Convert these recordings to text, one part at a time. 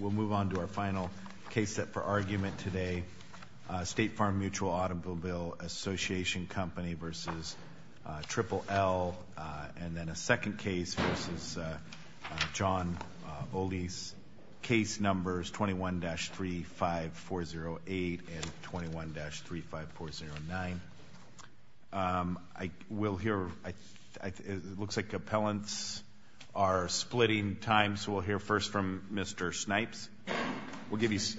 We'll move on to our final case set for argument today, State Farm Mutual Auto Bill Association Company v. Triple L, and then a second case v. John Oles, case numbers 21-35408 and 21-35409. It looks like appellants are splitting time, so we'll hear first from Mr. Snipes. We'll give you six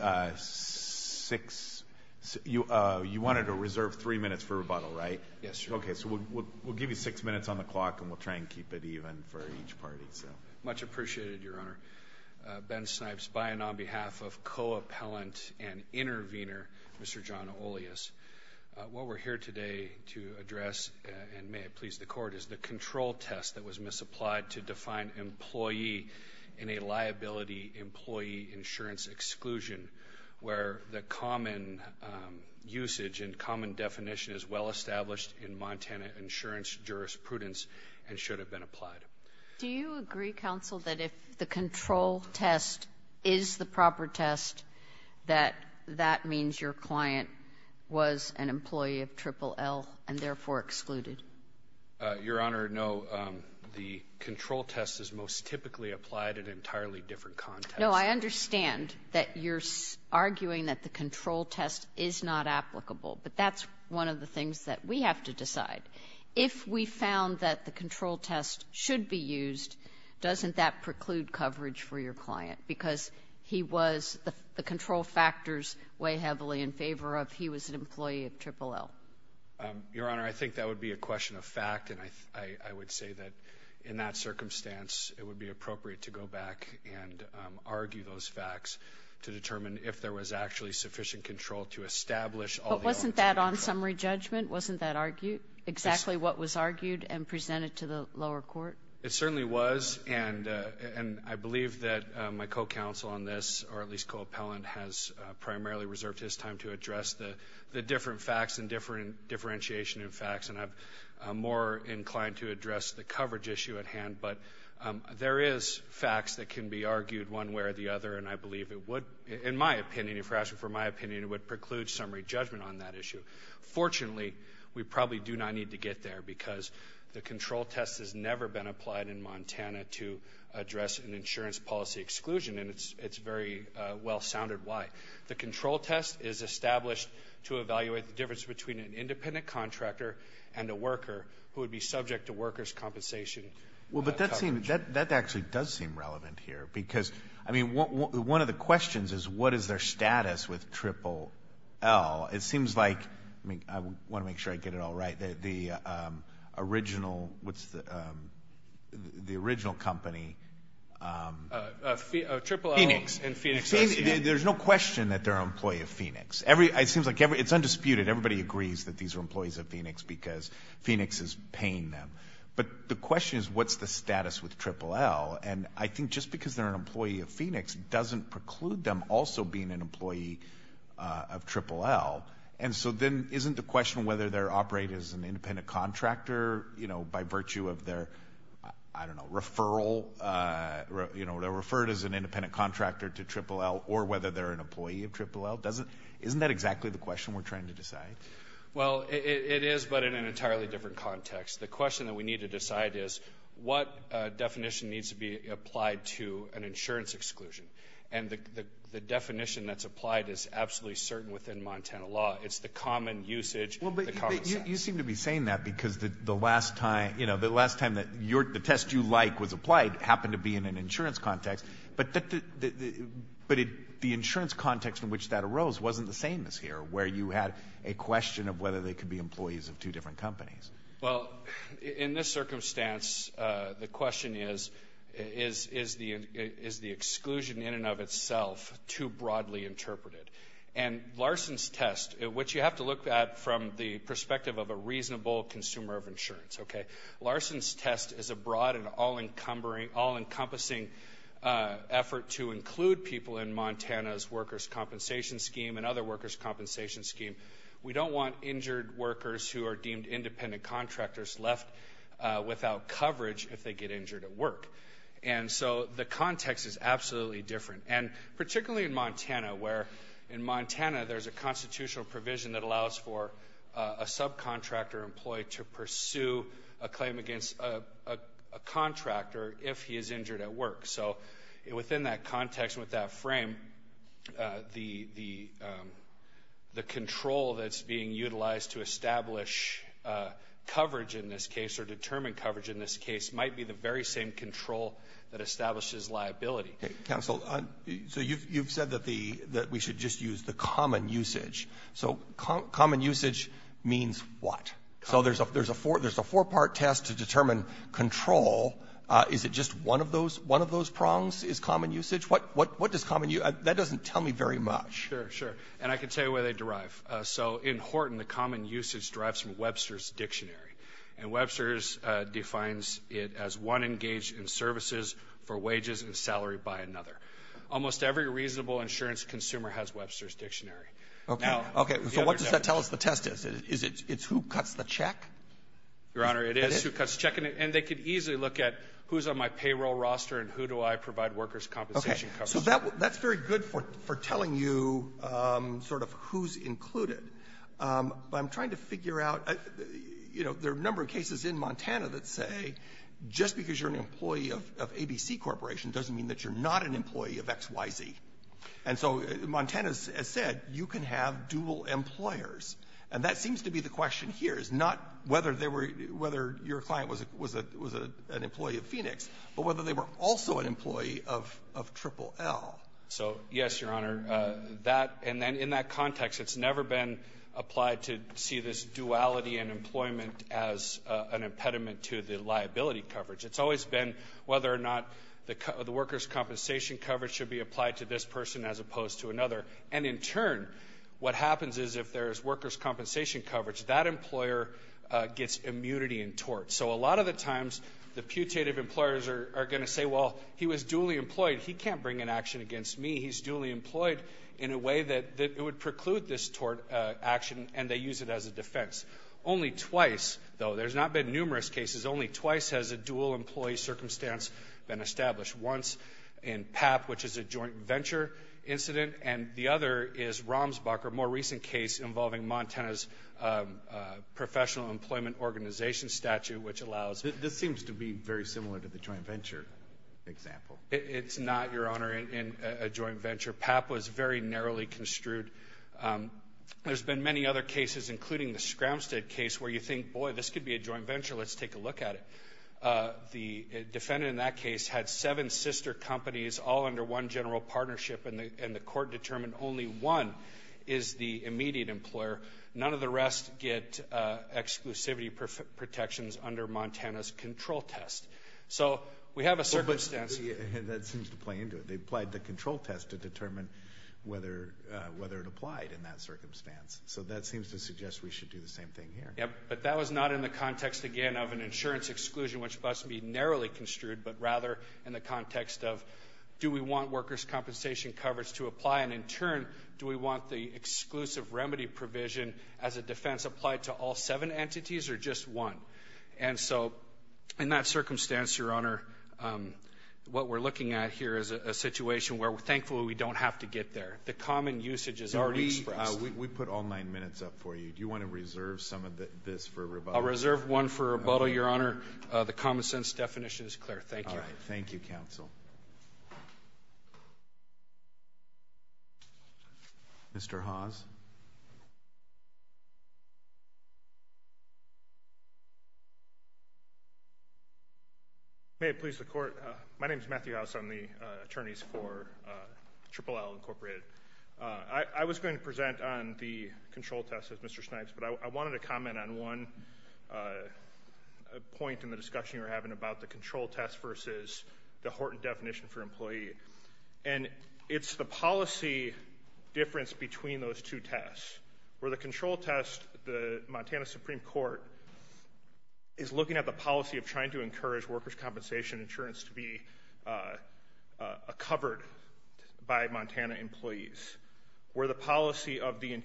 minutes on the clock, and we'll try and keep it even for each party. Much appreciated, Your Honor. Ben Snipes, buying on behalf of co-appellant and intervener, Mr. John Oles. What we're here today to address, and may it please the Court, is the control test that was misapplied to define employee in a liability employee insurance exclusion, where the common usage and common definition is well-established in Montana insurance jurisprudence and should have been applied. Do you agree, counsel, that if the control test is the proper test, that that means your client was an employee of Triple L and therefore excluded? Your Honor, no. The control test is most typically applied in an entirely different context. No, I understand that you're arguing that the control test is not applicable, but that's one of the things that we have to decide. If we found that the control test should be used, doesn't that preclude coverage for your client? Because he was, the control factors weigh heavily in favor of he was an employee of Triple L. Your Honor, I think that would be a question of fact, and I would say that in that circumstance, it would be appropriate to go back and argue those facts to determine if there was actually sufficient control to establish all the elements of that control. Summary judgment, wasn't that exactly what was argued and presented to the lower court? It certainly was, and I believe that my co-counsel on this, or at least co-appellant, has primarily reserved his time to address the different facts and differentiation of facts. And I'm more inclined to address the coverage issue at hand, but there is facts that can be argued one way or the other, and I believe it would, in my opinion, if you're asking for my opinion, it would preclude summary judgment on that issue. Fortunately, we probably do not need to get there, because the control test has never been applied in Montana to address an insurance policy exclusion, and it's very well-sounded why. The control test is established to evaluate the difference between an independent contractor and a worker who would be subject to workers' compensation. Well, but that actually does seem relevant here, because, I mean, one of the questions is, what is their status with Triple L? It seems like, I want to make sure I get it all right, the original, what's the original company? Triple L and Phoenix. There's no question that they're an employee of Phoenix. It seems like it's undisputed, everybody agrees that these are employees of Phoenix, because Phoenix is paying them. But the question is, what's the status with Triple L? And I think just because they're an employee of Phoenix doesn't preclude them also being an employee of Triple L. And so then, isn't the question whether they're operating as an independent contractor, by virtue of their, I don't know, referral, they're referred as an independent contractor to Triple L, or whether they're an employee of Triple L, isn't that exactly the question we're trying to decide? Well, it is, but in an entirely different context. The question that we need to decide is, what definition needs to be applied to an insurance exclusion? And the definition that's applied is absolutely certain within Montana law. It's the common usage, the common sense. You seem to be saying that because the last time that the test you like was applied happened to be in an insurance context. But the insurance context in which that arose wasn't the same as here, where you had a question of whether they could be employees of two different companies. Well, in this circumstance, the question is, is the exclusion in and of itself too broadly interpreted? And Larson's test, which you have to look at from the perspective of a reasonable consumer of insurance, okay? Larson's test is a broad and all-encompassing effort to include people in Montana's workers' compensation scheme and other workers' compensation scheme. We don't want injured workers who are deemed independent contractors left without coverage if they get injured at work. And so the context is absolutely different. And particularly in Montana, where in Montana there's a constitutional provision that allows for a subcontractor employee to pursue a claim against a contractor if he is injured at work. So within that context, with that frame, the control that's being utilized to establish coverage in this case or determine coverage in this case might be the very same control that establishes liability. Counsel, so you've said that we should just use the common usage. So common usage means what? So there's a four-part test to determine control. Is it just one of those prongs is common usage? What does common use? That doesn't tell me very much. Sure, sure. And I can tell you where they derive. So in Horton, the common usage derives from Webster's Dictionary. And Webster's defines it as one engaged in services for wages and salary by another. Almost every reasonable insurance consumer has Webster's Dictionary. Okay. Okay. So what does that tell us the test is? Is it who cuts the check? Your Honor, it is who cuts the check. And they could easily look at who's on my payroll roster and who do I provide workers' compensation coverage. Okay. So that's very good for telling you sort of who's included. But I'm trying to figure out, you know, there are a number of cases in Montana that say just because you're an employee of ABC Corporation doesn't mean that you're not an employee of XYZ. And so Montana has said you can have dual employers. And that seems to be the question here is not whether they were — whether your client was an employee of Phoenix, but whether they were also an employee of Triple L. So, yes, Your Honor. That — and then in that context, it's never been applied to see this duality in employment as an impediment to the liability coverage. It's always been whether or not the workers' compensation coverage should be applied to this person as opposed to another. And in turn, what happens is if there's workers' compensation coverage, that employer gets immunity and tort. So a lot of the times, the putative employers are going to say, well, he was dually employed. He can't bring an action against me. He's dually employed in a way that it would preclude this tort action, and they use it as a defense. Only twice, though — there's not been numerous cases — only twice has a dual employee circumstance been established. Once in PAP, which is a joint venture incident, and the other is Romsbach, a more recent case involving Montana's professional employment organization statute, which allows — This seems to be very similar to the joint venture example. It's not, Your Honor, in a joint venture. PAP was very narrowly construed. There's been many other cases, including the Scramstead case, where you think, boy, this could be a joint venture. Let's take a look at it. The defendant in that case had seven sister companies, all under one general partnership, and the court determined only one is the immediate employer. None of the rest get exclusivity protections under Montana's control test. So we have a circumstance — Yeah, that seems to play into it. They applied the control test to determine whether it applied in that circumstance. So that seems to suggest we should do the same thing here. Yeah, but that was not in the context, again, of an insurance exclusion, which must be narrowly construed, but rather in the context of, do we want workers' compensation coverage to apply? And in turn, do we want the exclusive remedy provision as a defense applied to all seven entities or just one? And so, in that circumstance, Your Honor, what we're looking at here is a situation where, thankfully, we don't have to get there. The common usage is already expressed. We put all nine minutes up for you. Do you want to reserve some of this for rebuttal? I'll reserve one for rebuttal, Your Honor. The common sense definition is clear. Thank you. All right. Thank you, counsel. Mr. Haas. May it please the Court, my name is Matthew Haas. I'm the attorneys for Triple L, Incorporated. I was going to present on the control test, as Mr. Snipes, but I wanted to comment on one point in the discussion you were having about the control test versus the Horton definition for employee. And it's the policy difference between those two tests. Where the control test, the Montana Supreme Court is looking at the policy of trying to encourage workers' compensation insurance to be covered by Montana employees. Where the policy of the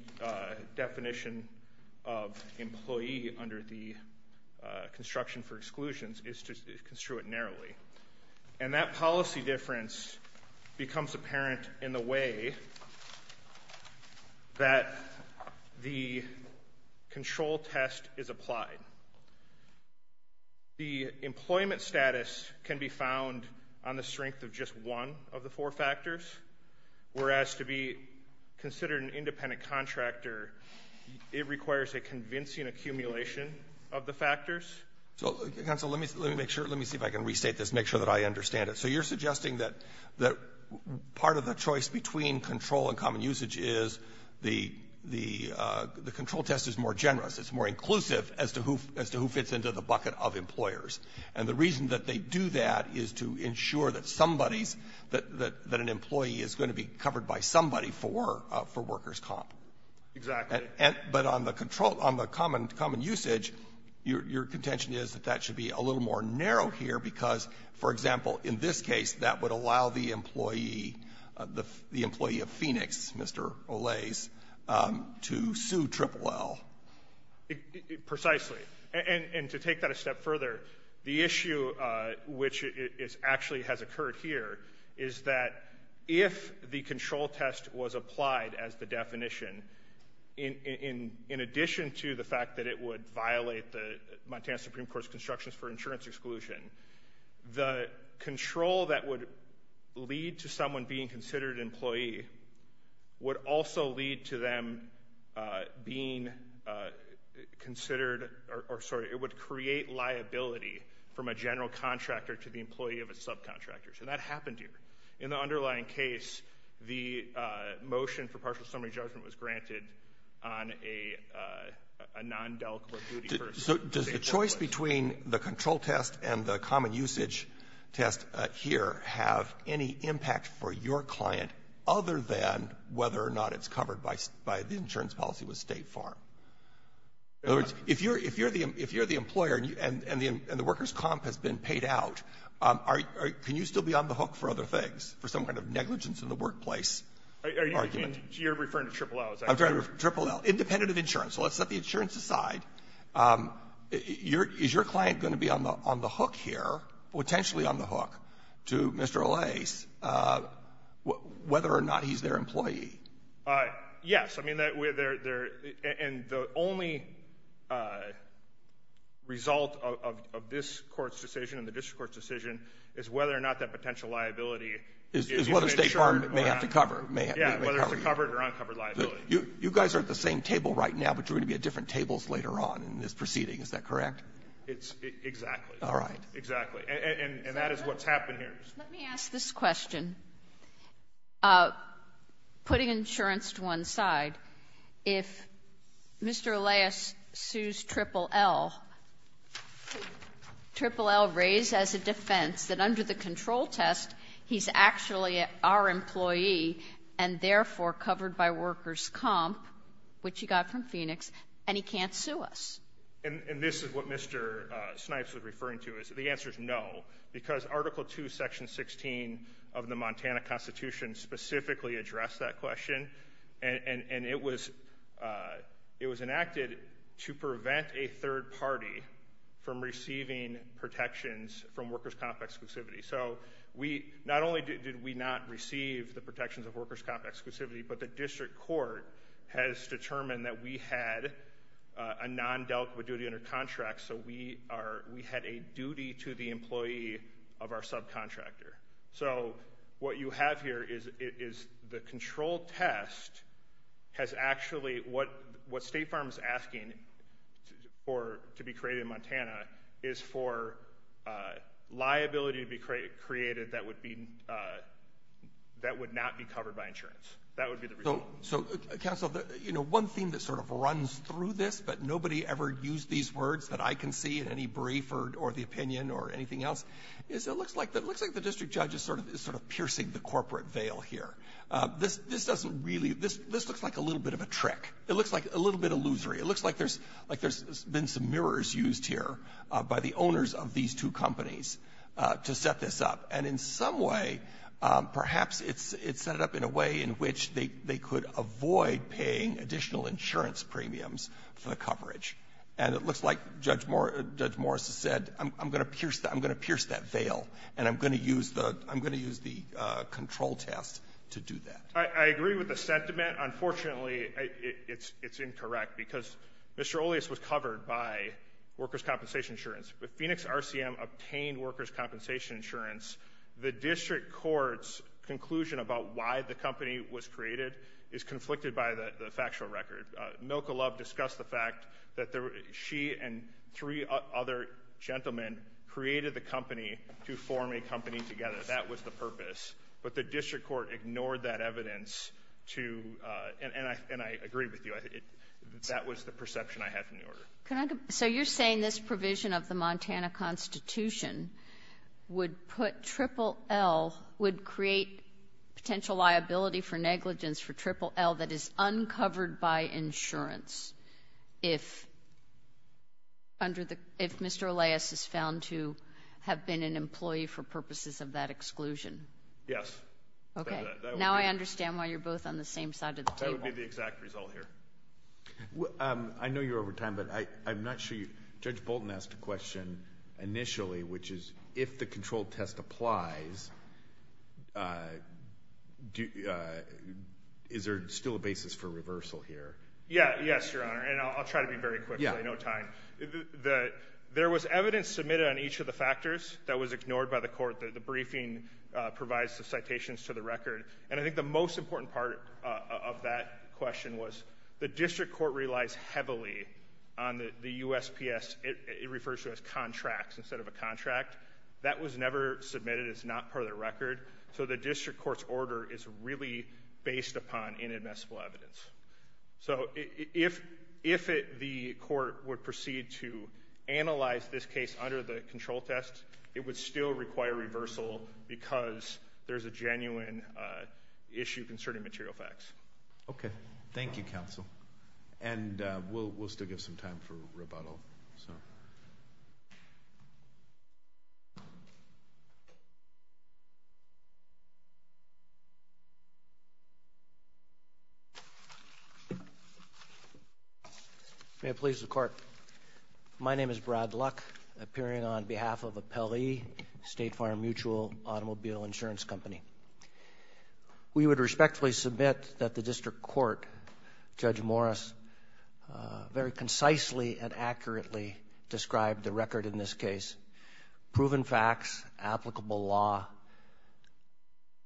definition of employee under the construction for exclusions is to construe it narrowly. And that policy difference becomes apparent in the way that the control test is applied. The employment status can be found on the strength of just one of the four factors. Whereas to be considered an independent contractor, it requires a convincing accumulation of the factors. So, counsel, let me see if I can restate this, make sure that I understand it. So you're suggesting that part of the choice between control and common usage is the control test is more generous. It's more inclusive as to who fits into the bucket of employers. And the reason that they do that is to ensure that somebody's, that an employee is going to be covered by somebody for workers' comp. Exactly. But on the control, on the common usage, your contention is that that should be a little more narrow here because, for example, in this case, that would allow the employee, the employee of Phoenix, Mr. Olaze, to sue Triple L. Precisely. And to take that a step further, the issue which is actually has occurred here is that if the control test was applied as the definition, in addition to the fact that it would violate the Montana Supreme Court's constructions for insurance exclusion, the control that would lead to someone being considered an employee would also lead to them being considered, or sorry, it would create liability from a general contractor to the employee of a subcontractor. So that happened here. In the underlying case, the motion for partial summary judgment was granted on a non-deliquent duty first. So does the choice between the control test and the common usage test here have any impact for your client other than whether or not it's covered by the insurance policy with State Farm? In other words, if you're the employer and the workers' comp has been paid out, can you still be on the hook for other things, for some kind of negligence in the workplace argument? You're referring to Triple L, is that correct? I'm sorry, Triple L. Independent of insurance. So let's set the insurance aside. Is your client going to be on the hook here, potentially on the hook, to Mr. O'Lease, whether or not he's their employee? Yes. I mean, and the only result of this Court's decision and the district court's decision is whether or not that potential liability is insured or not. Is whether State Farm may have to cover. Yeah, whether it's a covered or uncovered liability. You guys are at the same table right now, but you're going to be at different tables later on in this proceeding, is that correct? It's — exactly. All right. Exactly. And that is what's happened here. Let me ask this question. Putting insurance to one side, if Mr. O'Lease sues Triple L, Triple L raised as a defense that under the control test, he's actually our employee and, therefore, covered by workers' comp, which he got from Phoenix, and he can't sue us. And this is what Mr. Snipes was referring to, is the answer is no, because Article II, Section 16 of the Montana Constitution specifically addressed that question. And it was enacted to prevent a third party from receiving protections from workers' comp exclusivity. So we — not only did we not receive the protections of workers' comp exclusivity, but the district court has determined that we had a non-delta duty under contract, so we are — we had a duty to the employee of our subcontractor. So what you have here is the control test has actually — what State Farm is asking for to be created in Montana is for liability to be created that would be — that would not be covered by insurance. That would be the result. So, counsel, you know, one thing that sort of runs through this, but nobody ever used these words that I can see in any brief or the opinion or anything else, is it looks like the district judge is sort of piercing the corporate veil here. This doesn't really — this looks like a little bit of a trick. It looks like a little bit illusory. It looks like there's been some mirrors used here by the owners of these two companies to set this up. And in some way, perhaps it's set it up in a way in which they could avoid paying additional insurance premiums for the coverage. And it looks like Judge Morris has said, I'm going to pierce that veil, and I'm going to use the control test to do that. I agree with the sentiment. Unfortunately, it's incorrect, because Mr. Oleis was covered by workers' compensation insurance. When Phoenix RCM obtained workers' compensation insurance, the district court's conclusion about why the company was created is conflicted by the factual record. Milka Love discussed the fact that she and three other gentlemen created the company to form a company together. That was the purpose. But the district court ignored that evidence to — and I agree with you. Can I — so you're saying this provision of the Montana Constitution would put — Triple L would create potential liability for negligence for Triple L that is uncovered by insurance if under the — if Mr. Oleis is found to have been an employee for purposes of that exclusion? Yes. OK. Now I understand why you're both on the same side of the table. That would be the exact result here. I know you're over time, but I'm not sure you — Judge Bolton asked a question initially, which is, if the control test applies, is there still a basis for reversal here? Yes, Your Honor, and I'll try to be very quick, so I have no time. There was evidence submitted on each of the factors that was ignored by the court. The briefing provides the citations to the record. And I think the most important part of that question was the district court relies heavily on the USPS. It refers to it as contracts instead of a contract. That was never submitted. It's not part of the record. So the district court's order is really based upon inadmissible evidence. So if the court would proceed to analyze this case under the control test, it would still require reversal because there's a genuine issue concerning material facts. OK. Thank you, counsel. And we'll still give some time for rebuttal. May it please the court. My name is Brad Luck, appearing on behalf of Appellee State Farm Mutual Automobile Insurance Company. We would respectfully submit that the district court, Judge Morris, very concisely and accurately described the record in this case. Proven facts, applicable law,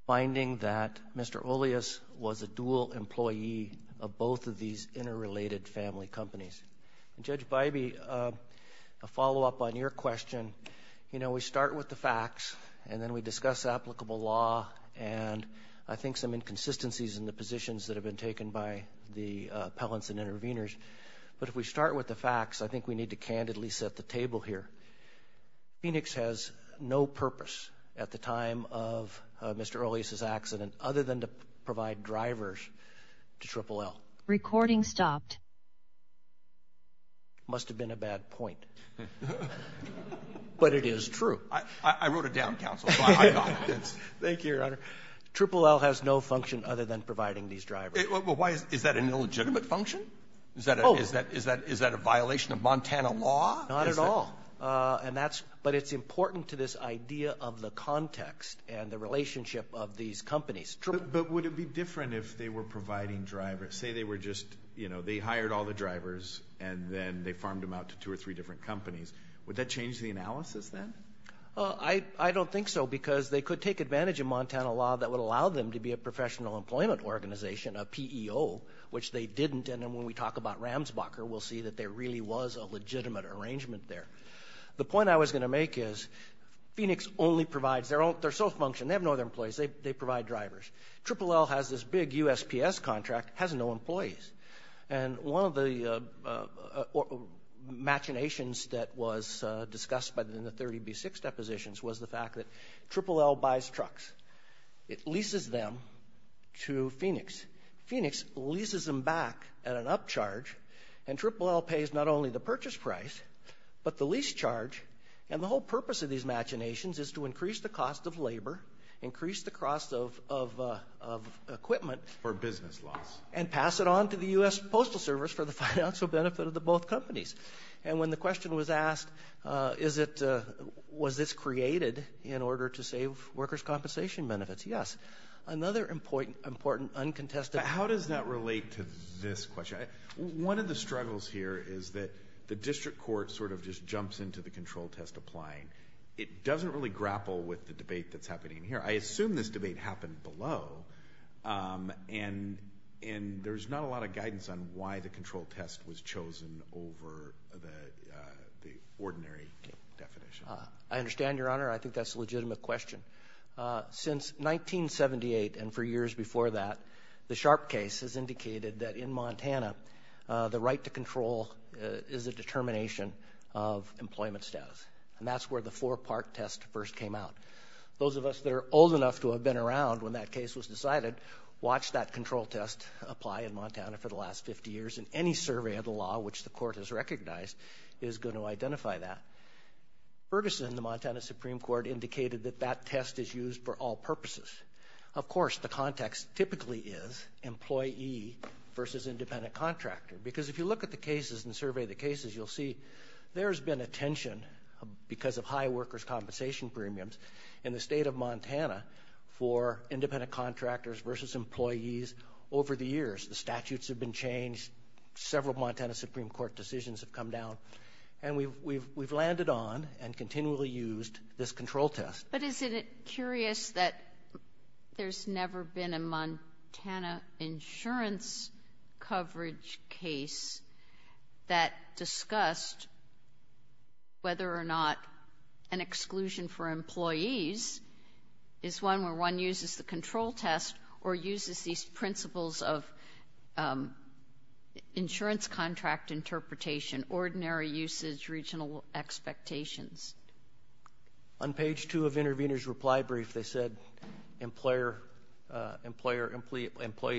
finding that Mr. Olias was a dual employee of both of these interrelated family companies. Judge Bybee, a follow-up on your question. You know, we start with the facts and then we discuss applicable law and I think some inconsistencies in the positions that have been taken by the appellants and intervenors. But if we start with the facts, I think we need to candidly set the table here. Phoenix has no purpose at the time of Mr. Olias's accident other than to provide drivers to Triple L. Recording stopped. Must have been a bad point. But it is true. I wrote it down, counsel. Thank you, Your Honor. Triple L has no function other than providing these drivers. Why is that an illegitimate function? Is that a violation of Montana law? Not at all. And that's, but it's important to this idea of the context and the relationship of these companies. But would it be different if they were providing drivers? Say they were just, you know, they hired all the drivers and then they farmed them out to two or three different companies. Would that change the analysis then? I don't think so because they could take advantage of Montana law that would allow them to be a professional employment organization, a PEO, which they didn't. And then when we talk about Ramsbacher, we'll see that there really was a legitimate arrangement there. The point I was going to make is Phoenix only provides their own, their sole function. They have no other employees. They provide drivers. Triple L has this big USPS contract, has no employees. And one of the machinations that was discussed in the 30B6 depositions was the fact that Triple L buys trucks. It leases them to Phoenix. Phoenix leases them back at an upcharge. And Triple L pays not only the purchase price, but the lease charge. And the whole purpose of these machinations is to increase the cost of labor, increase the cost of equipment. For business loss. And pass it on to the US Postal Service for the financial benefit of the both companies. And when the question was asked, is it, was this created in order to save workers' compensation benefits? Yes. Another important, uncontested. How does that relate to this question? One of the struggles here is that the district court sort of just jumps into the control test applying. It doesn't really grapple with the debate that's happening here. I assume this debate happened below. And there's not a lot of guidance on why the control test was chosen over the ordinary definition. I understand, Your Honor. I think that's a legitimate question. Since 1978 and for years before that, the Sharpe case has indicated that in Montana, the right to control is a determination of employment status. And that's where the four-part test first came out. Those of us that are old enough to have been around when that case was decided, watched that control test apply in Montana for the last 50 years. And any survey of the law, which the court has recognized, is going to identify that. Ferguson, the Montana Supreme Court, indicated that that test is used for all purposes. Of course, the context typically is employee versus independent contractor. Because if you look at the cases and survey the cases, you'll see there's been a tension because of high workers' compensation premiums in the state of Montana for independent contractors versus employees over the years. The statutes have been changed. Several Montana Supreme Court decisions have come down. And we've landed on and continually used this control test. But isn't it curious that there's never been a Montana insurance coverage case that discussed whether or not an exclusion for employees is one where one uses the control test or uses these principles of insurance contract interpretation, ordinary usage, regional expectations? On page two of intervener's reply brief, they said, employee,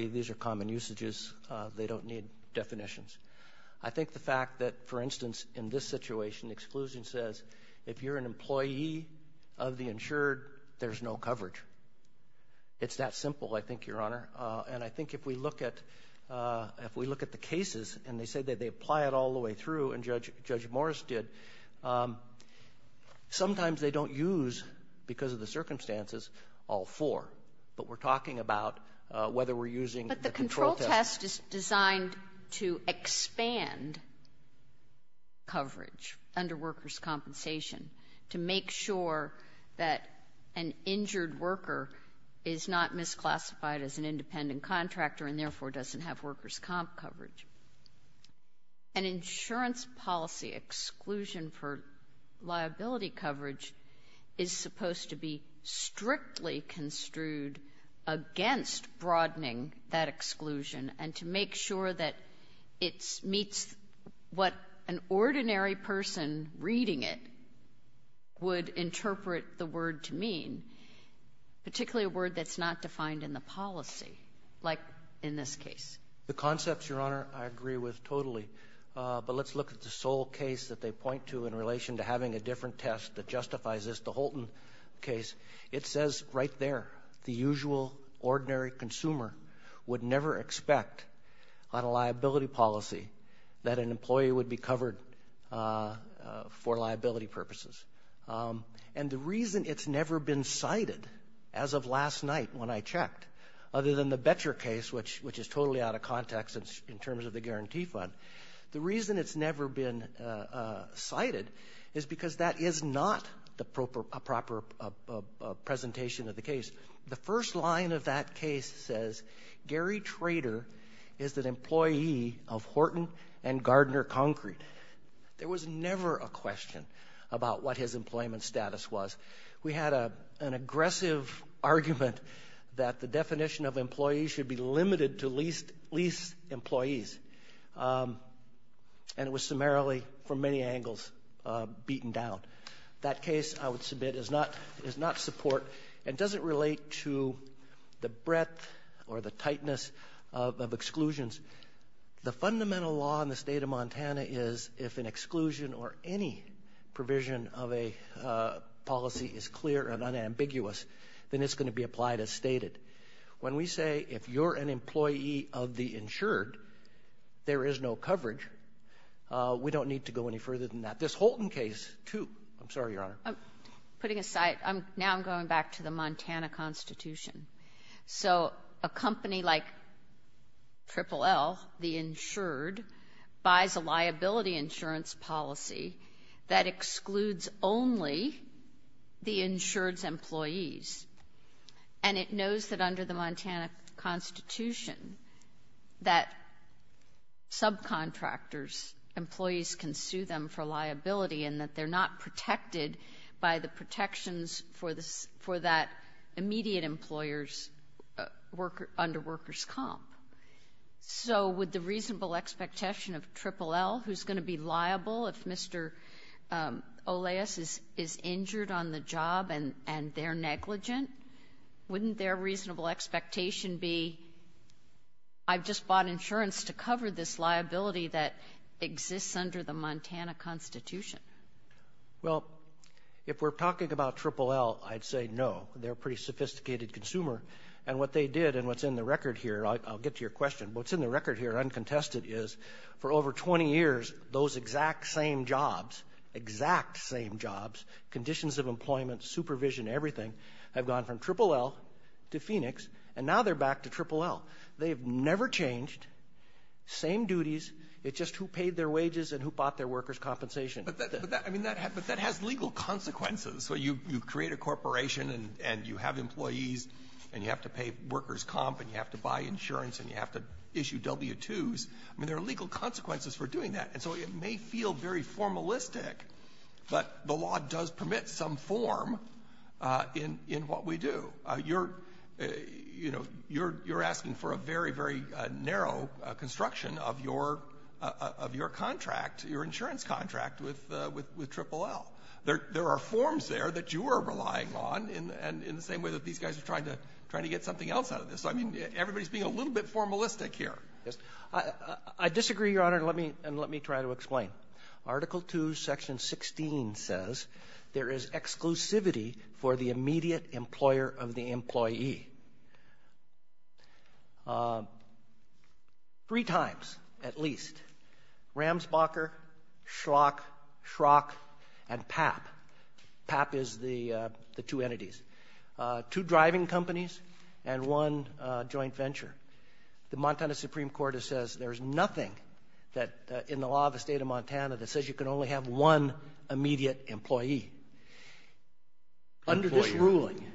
these are common usages. They don't need definitions. I think the fact that, for instance, in this situation, exclusion says, if you're an employee of the insured, there's no coverage. It's that simple, I think, Your Honor. And I think if we look at the cases, and they said that they apply it all the way through, and Judge Morris did, sometimes they don't use, because of the circumstances, all four. But we're talking about whether we're using the control test. But the control test is designed to expand coverage under workers' compensation to make sure that an injured worker is not misclassified as an independent contractor and therefore doesn't have workers' comp coverage. An insurance policy exclusion for liability coverage is supposed to be strictly construed against broadening that exclusion and to make sure that it meets what an ordinary person reading it would interpret the word to mean, particularly a word that's not defined in the policy, like in this case. The concepts, Your Honor, I agree with totally. But let's look at the sole case that they point to in relation to having a different test that justifies this, the Holton case. It says right there, the usual ordinary consumer would never expect on a liability policy that an employee would be covered for liability purposes. And the reason it's never been cited, as of last night when I checked, other than the Betcher case, which is totally out of context in terms of the guarantee fund, the reason it's never been cited is because that is not a proper presentation of the case. The first line of that case says, Gary Trader is an employee of Horton and Gardner Concrete. There was never a question about what his employment status was. We had an aggressive argument that the definition of employee should be limited to least employees. And it was summarily, from many angles, beaten down. That case, I would submit, is not support. It doesn't relate to the breadth or the tightness of exclusions. The fundamental law in the state of Montana is if an exclusion or any provision of a policy is clear and unambiguous, then it's going to be applied as stated. When we say, if you're an employee of the insured, there is no coverage, we don't need to go any further than that. This Holton case, too, I'm sorry, Your Honor. I'm putting aside. Now I'm going back to the Montana Constitution. So a company like Triple L, the insured, buys a liability insurance policy that excludes only the insured's employees. So with the reasonable expectation of Triple L, who's going to be liable if Mr. Oleas is injured on the job and they're negligent, wouldn't their reasonable expectation be, I've just bought insurance to cover this liability that exists under the Montana Constitution? Well, if we're talking about Triple L, I'd say no. They're a pretty sophisticated consumer. And what they did and what's in the record here, I'll get to your question, what's in the record here, uncontested, is for over 20 years, those exact same jobs, exact same jobs, conditions of employment, supervision, everything, have gone from Triple L to Phoenix and now they're back to Triple L. They have never changed, same duties. It's just who paid their wages and who bought their workers' compensation. But that has legal consequences. So you create a corporation and you have employees and you have to pay workers' comp and you have to buy insurance and you have to issue W-2s. I mean, there are legal consequences for doing that. And so it may feel very formalistic, but the law does permit some form in what we do. You're, you know, you're asking for a very, very narrow construction of your contract, your insurance contract with Triple L. There are forms there that you are relying on in the same way that these guys are trying to get something else out of this. So, I mean, everybody's being a little bit formalistic here. Yes. I disagree, Your Honor, and let me try to explain. Article 2, Section 16 says, there is exclusivity for the immediate employer of the employee. Three times, at least. Ramsbacher, Schlock, Schrock, and Papp. Papp is the two entities. Two driving companies and one joint venture. The Montana Supreme Court says there's nothing that, in the law of the state of Montana, that says you can only have one immediate employee. Under this ruling... Employer.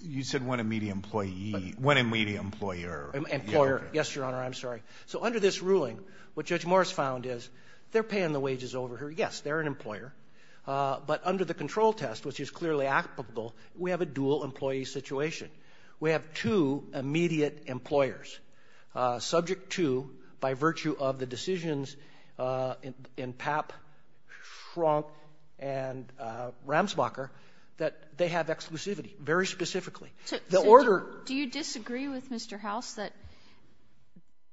You said one immediate employee. One immediate employer. Employer. Yes, Your Honor, I'm sorry. So under this ruling, what Judge Morris found is they're paying the wages over here. Yes, they're an employer. But under the control test, which is clearly applicable, we have a dual-employee situation. We have two immediate employers, subject to, by virtue of the decisions in Papp, Schrock, and Ramsbacher, that they have exclusivity, very specifically. So the order... Do you disagree with Mr. House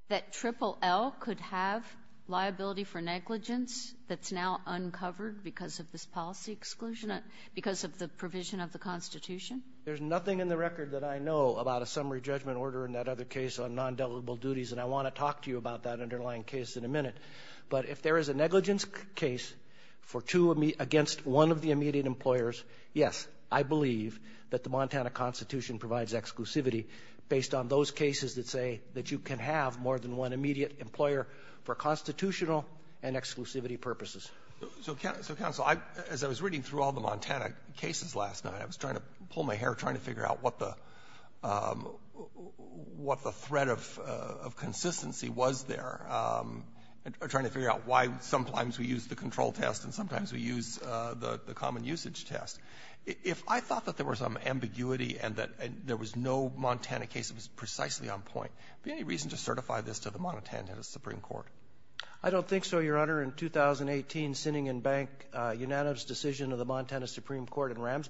that Triple L could have liability for negligence that's now uncovered because of this policy exclusion, because of the provision of the Constitution? There's nothing in the record that I know about a summary judgment order in that other case on non-deliberate duties, and I want to talk to you about that underlying case in a minute. But if there is a negligence case for two... Against one of the immediate employers, yes, I believe that the Montana Constitution provides exclusivity based on those cases that say that you can have more than one immediate employer for constitutional and exclusivity purposes. So, Counsel, as I was reading through all the Montana cases last night, I was trying to pull my hair trying to figure out what the threat of consistency was there, trying to figure out why sometimes we use the control test and sometimes we use the common usage test. If I thought that there was some ambiguity and that there was no Montana case that was precisely on point, would there be any reason to certify this to the Montana Supreme Court? I don't think so, Your Honor. In 2018, Sinning and Bank, Unanimous Decision of the Montana Supreme Court and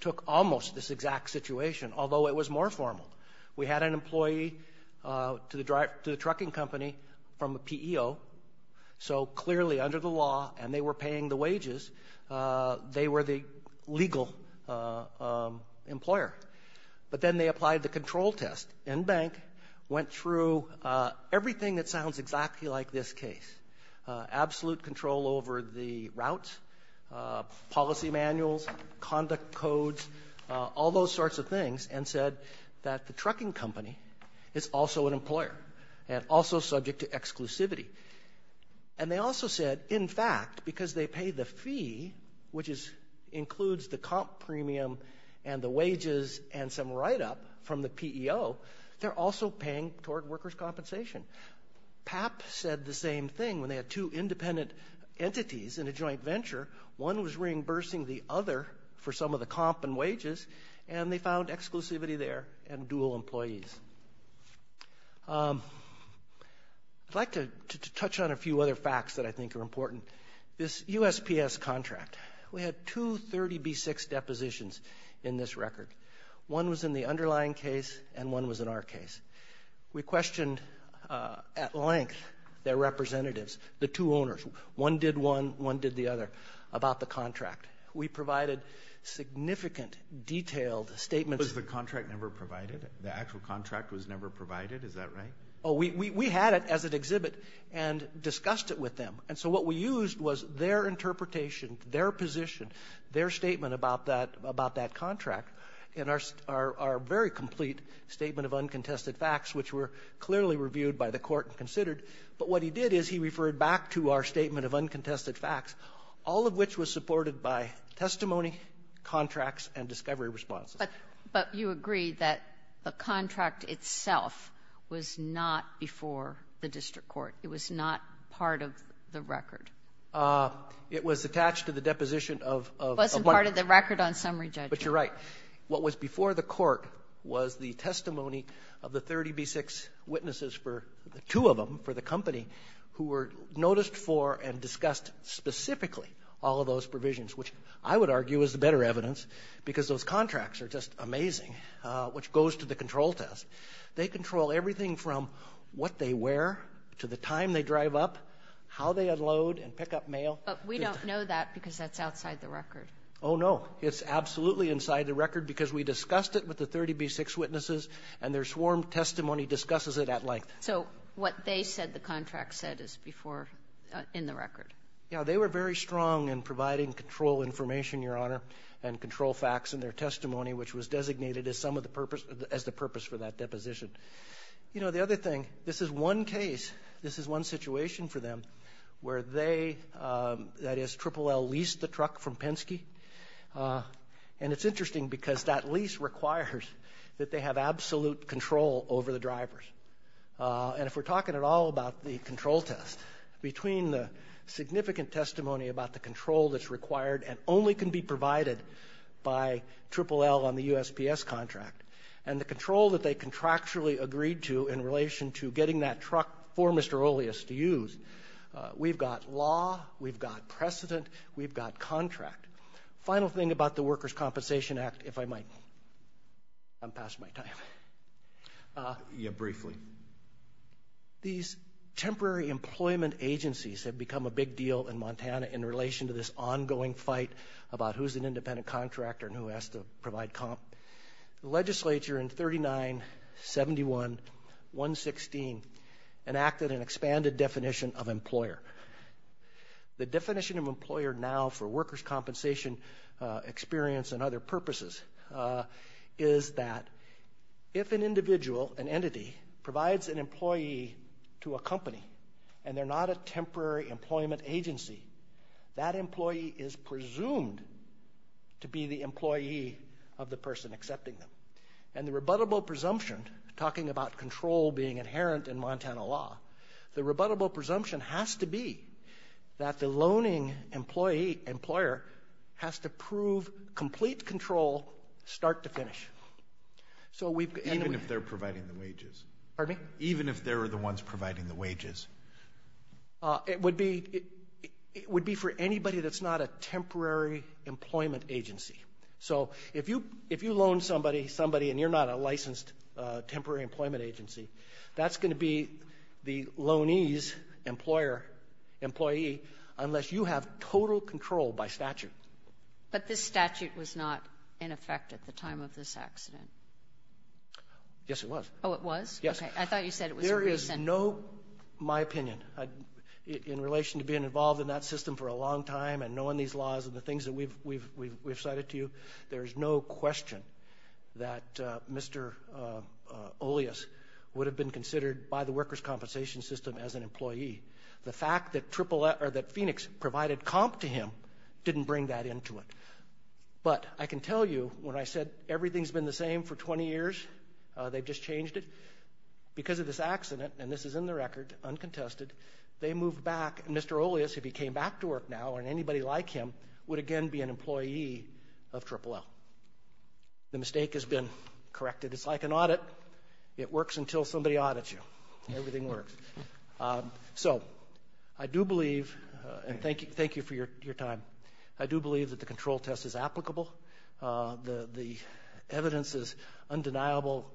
took almost this exact situation, although it was more formal. We had an employee to the trucking company from a PEO, so clearly under the law and they were paying the wages, they were the legal employer. But then they applied the control test. And Bank went through everything that sounds exactly like this case, absolute control over the routes, policy manuals, conduct codes, all those sorts of things and said that the trucking company is also an employer and also subject to exclusivity. And they also said, in fact, because they pay the fee, which includes the comp premium and the wages and some write-up from the PEO, they're also paying toward workers' compensation. PAP said the same thing when they had two independent entities in a joint venture. One was reimbursing the other for some of the comp and wages and they found exclusivity there and dual employees. I'd like to touch on a few other facts that I think are important. This USPS contract, we had two 30B6 depositions in this record. One was in the underlying case and one was in our case. We questioned at length their representatives, the two owners. One did one, one did the other, about the contract. We provided significant detailed statements. Was the contract never provided? The actual contract was never provided? Is that right? Oh, we had it as an exhibit and discussed it with them. And so what we used was their interpretation, their position, their statement about that contract in our very complete Statement of Uncontested Facts, which were clearly reviewed by the Court and considered. But what he did is he referred back to our Statement of Uncontested Facts, all of which was supported by testimony, contracts, and discovery responses. But you agree that the contract itself was not before the district court? It was not part of the record? It was attached to the deposition of one of the — It wasn't part of the record on summary judgment. But you're right. What was before the court was the testimony of the 30B6 witnesses for — two of them for the company who were noticed for and discussed specifically all of those provisions, which I would argue is the better evidence because those contracts are just amazing, which goes to the control test. They control everything from what they wear to the time they drive up, how they unload and pick up mail. But we don't know that because that's outside the record. Oh, no. It's absolutely inside the record because we discussed it with the 30B6 witnesses, and their swarm testimony discusses it at length. So what they said the contract said is before — in the record? Yeah. They were very strong in providing control information, Your Honor, and control facts in their testimony, which was designated as some of the purpose — as the purpose for that deposition. You know, the other thing, this is one case, this is one situation for them where they — that is, Triple L leased the truck from Penske. And it's interesting because that lease requires that they have absolute control over the drivers. And if we're talking at all about the control test, between the significant testimony about the control that's required and only can be provided by Triple L on the USPS contract, and the control that they contractually agreed to in relation to getting that truck for Mr. Oleus to use, we've got law, we've got precedent, we've got contract. Final thing about the Workers' Compensation Act, if I might. I'm past my time. Yeah, briefly. These temporary employment agencies have become a big deal in Montana in relation to this ongoing fight about who's an independent contractor and who has to provide 116, enacted an expanded definition of employer. The definition of employer now for workers' compensation experience and other purposes is that if an individual, an entity, provides an employee to a company and they're not a temporary employment agency, that employee is presumed to be the employee of the person accepting them. And the rebuttable presumption, talking about control being inherent in Montana law, the rebuttable presumption has to be that the loaning employee, employer, has to prove complete control start to finish. So we've... Even if they're providing the wages. Pardon me? Even if they're the ones providing the wages. It would be for anybody that's not a temporary employment agency. So if you loan somebody, and you're not a licensed temporary employment agency, that's going to be the loanee's employee unless you have total control by statute. But this statute was not in effect at the time of this accident. Yes, it was. Oh, it was? Yes. I thought you said it was recent. There is no, in my opinion, in relation to being involved in that system for a long time and knowing these laws and the things that we've cited to you, there is no question that Mr. Olias would have been considered by the workers' compensation system as an employee. The fact that Phoenix provided comp to him didn't bring that into it. But I can tell you, when I said everything's been the same for 20 years, they've just changed it, because of this accident, and this is in the record, uncontested, they moved back, and Mr. Olias, if he came back to work now, and anybody like him, would again be an employee of Triple L. The mistake has been corrected. It's like an audit. It works until somebody audits you. Everything works. So I do believe, and thank you for your time, I do believe that the control test is applicable. The evidence is undeniable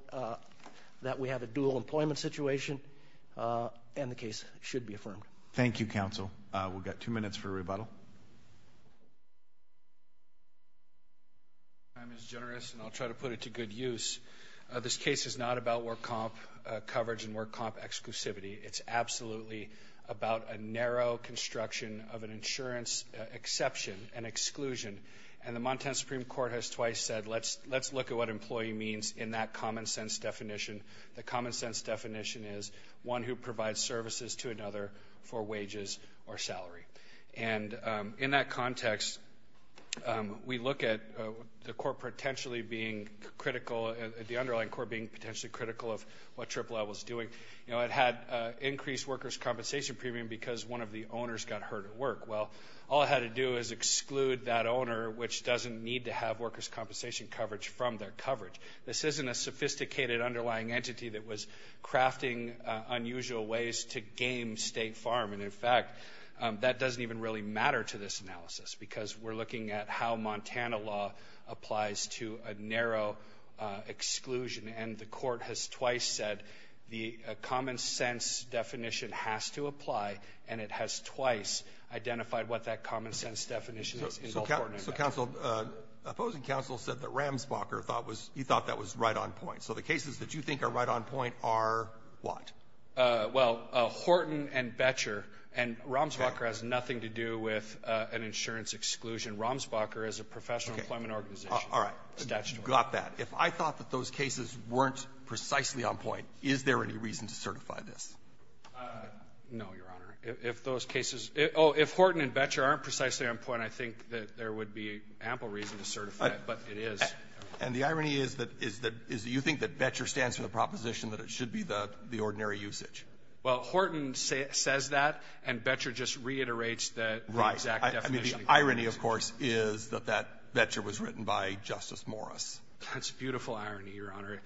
that we have a dual employment situation, and the case should be affirmed. Thank you, counsel. We've got two minutes for rebuttal. Your time is generous, and I'll try to put it to good use. This case is not about work comp coverage and work comp exclusivity. It's absolutely about a narrow construction of an insurance exception, an exclusion, and the Montana Supreme Court has twice said, let's look at what employee means in that common sense definition. The common sense definition is one who provides services to another for wages or salary. In that context, we look at the underlying court being potentially critical of what Triple L was doing. It had increased workers' compensation premium because one of the owners got hurt at work. Well, all it had to do is exclude that owner, which doesn't need to have workers' compensation coverage from their coverage. This isn't a sophisticated underlying entity that was crafting unusual ways to game State Farm, and in fact, that doesn't even really matter to this analysis because we're looking at how Montana law applies to a narrow exclusion, and the court has twice said the common sense definition has to apply, and it has twice identified what that common sense definition is in both court and in fact. So counsel, opposing counsel said that Ramsbacher thought that was right on point. So the cases that you think are right on point are what? Well, Horton and Boettcher. And Ramsbacher has nothing to do with an insurance exclusion. Ramsbacher is a professional employment organization. All right. Statutory. Got that. If I thought that those cases weren't precisely on point, is there any reason to certify this? No, Your Honor. If those cases — oh, if Horton and Boettcher aren't precisely on point, I think that there would be ample reason to certify it, but it is. And the irony is that you think that Boettcher stands for the proposition that it should be the ordinary usage. Well, Horton says that, and Boettcher just reiterates the exact definition. Right. I mean, the irony, of course, is that that Boettcher was written by Justice Morris. That's beautiful irony, Your Honor.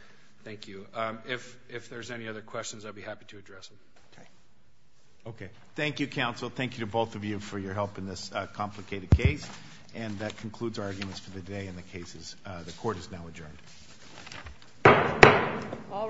Thank you. If there's any other questions, I'd be happy to address them. Okay. Okay. Thank you, counsel. Thank you to both of you for your help in this complicated case. And that concludes our arguments for the day and the cases. The Court is now adjourned. All rise.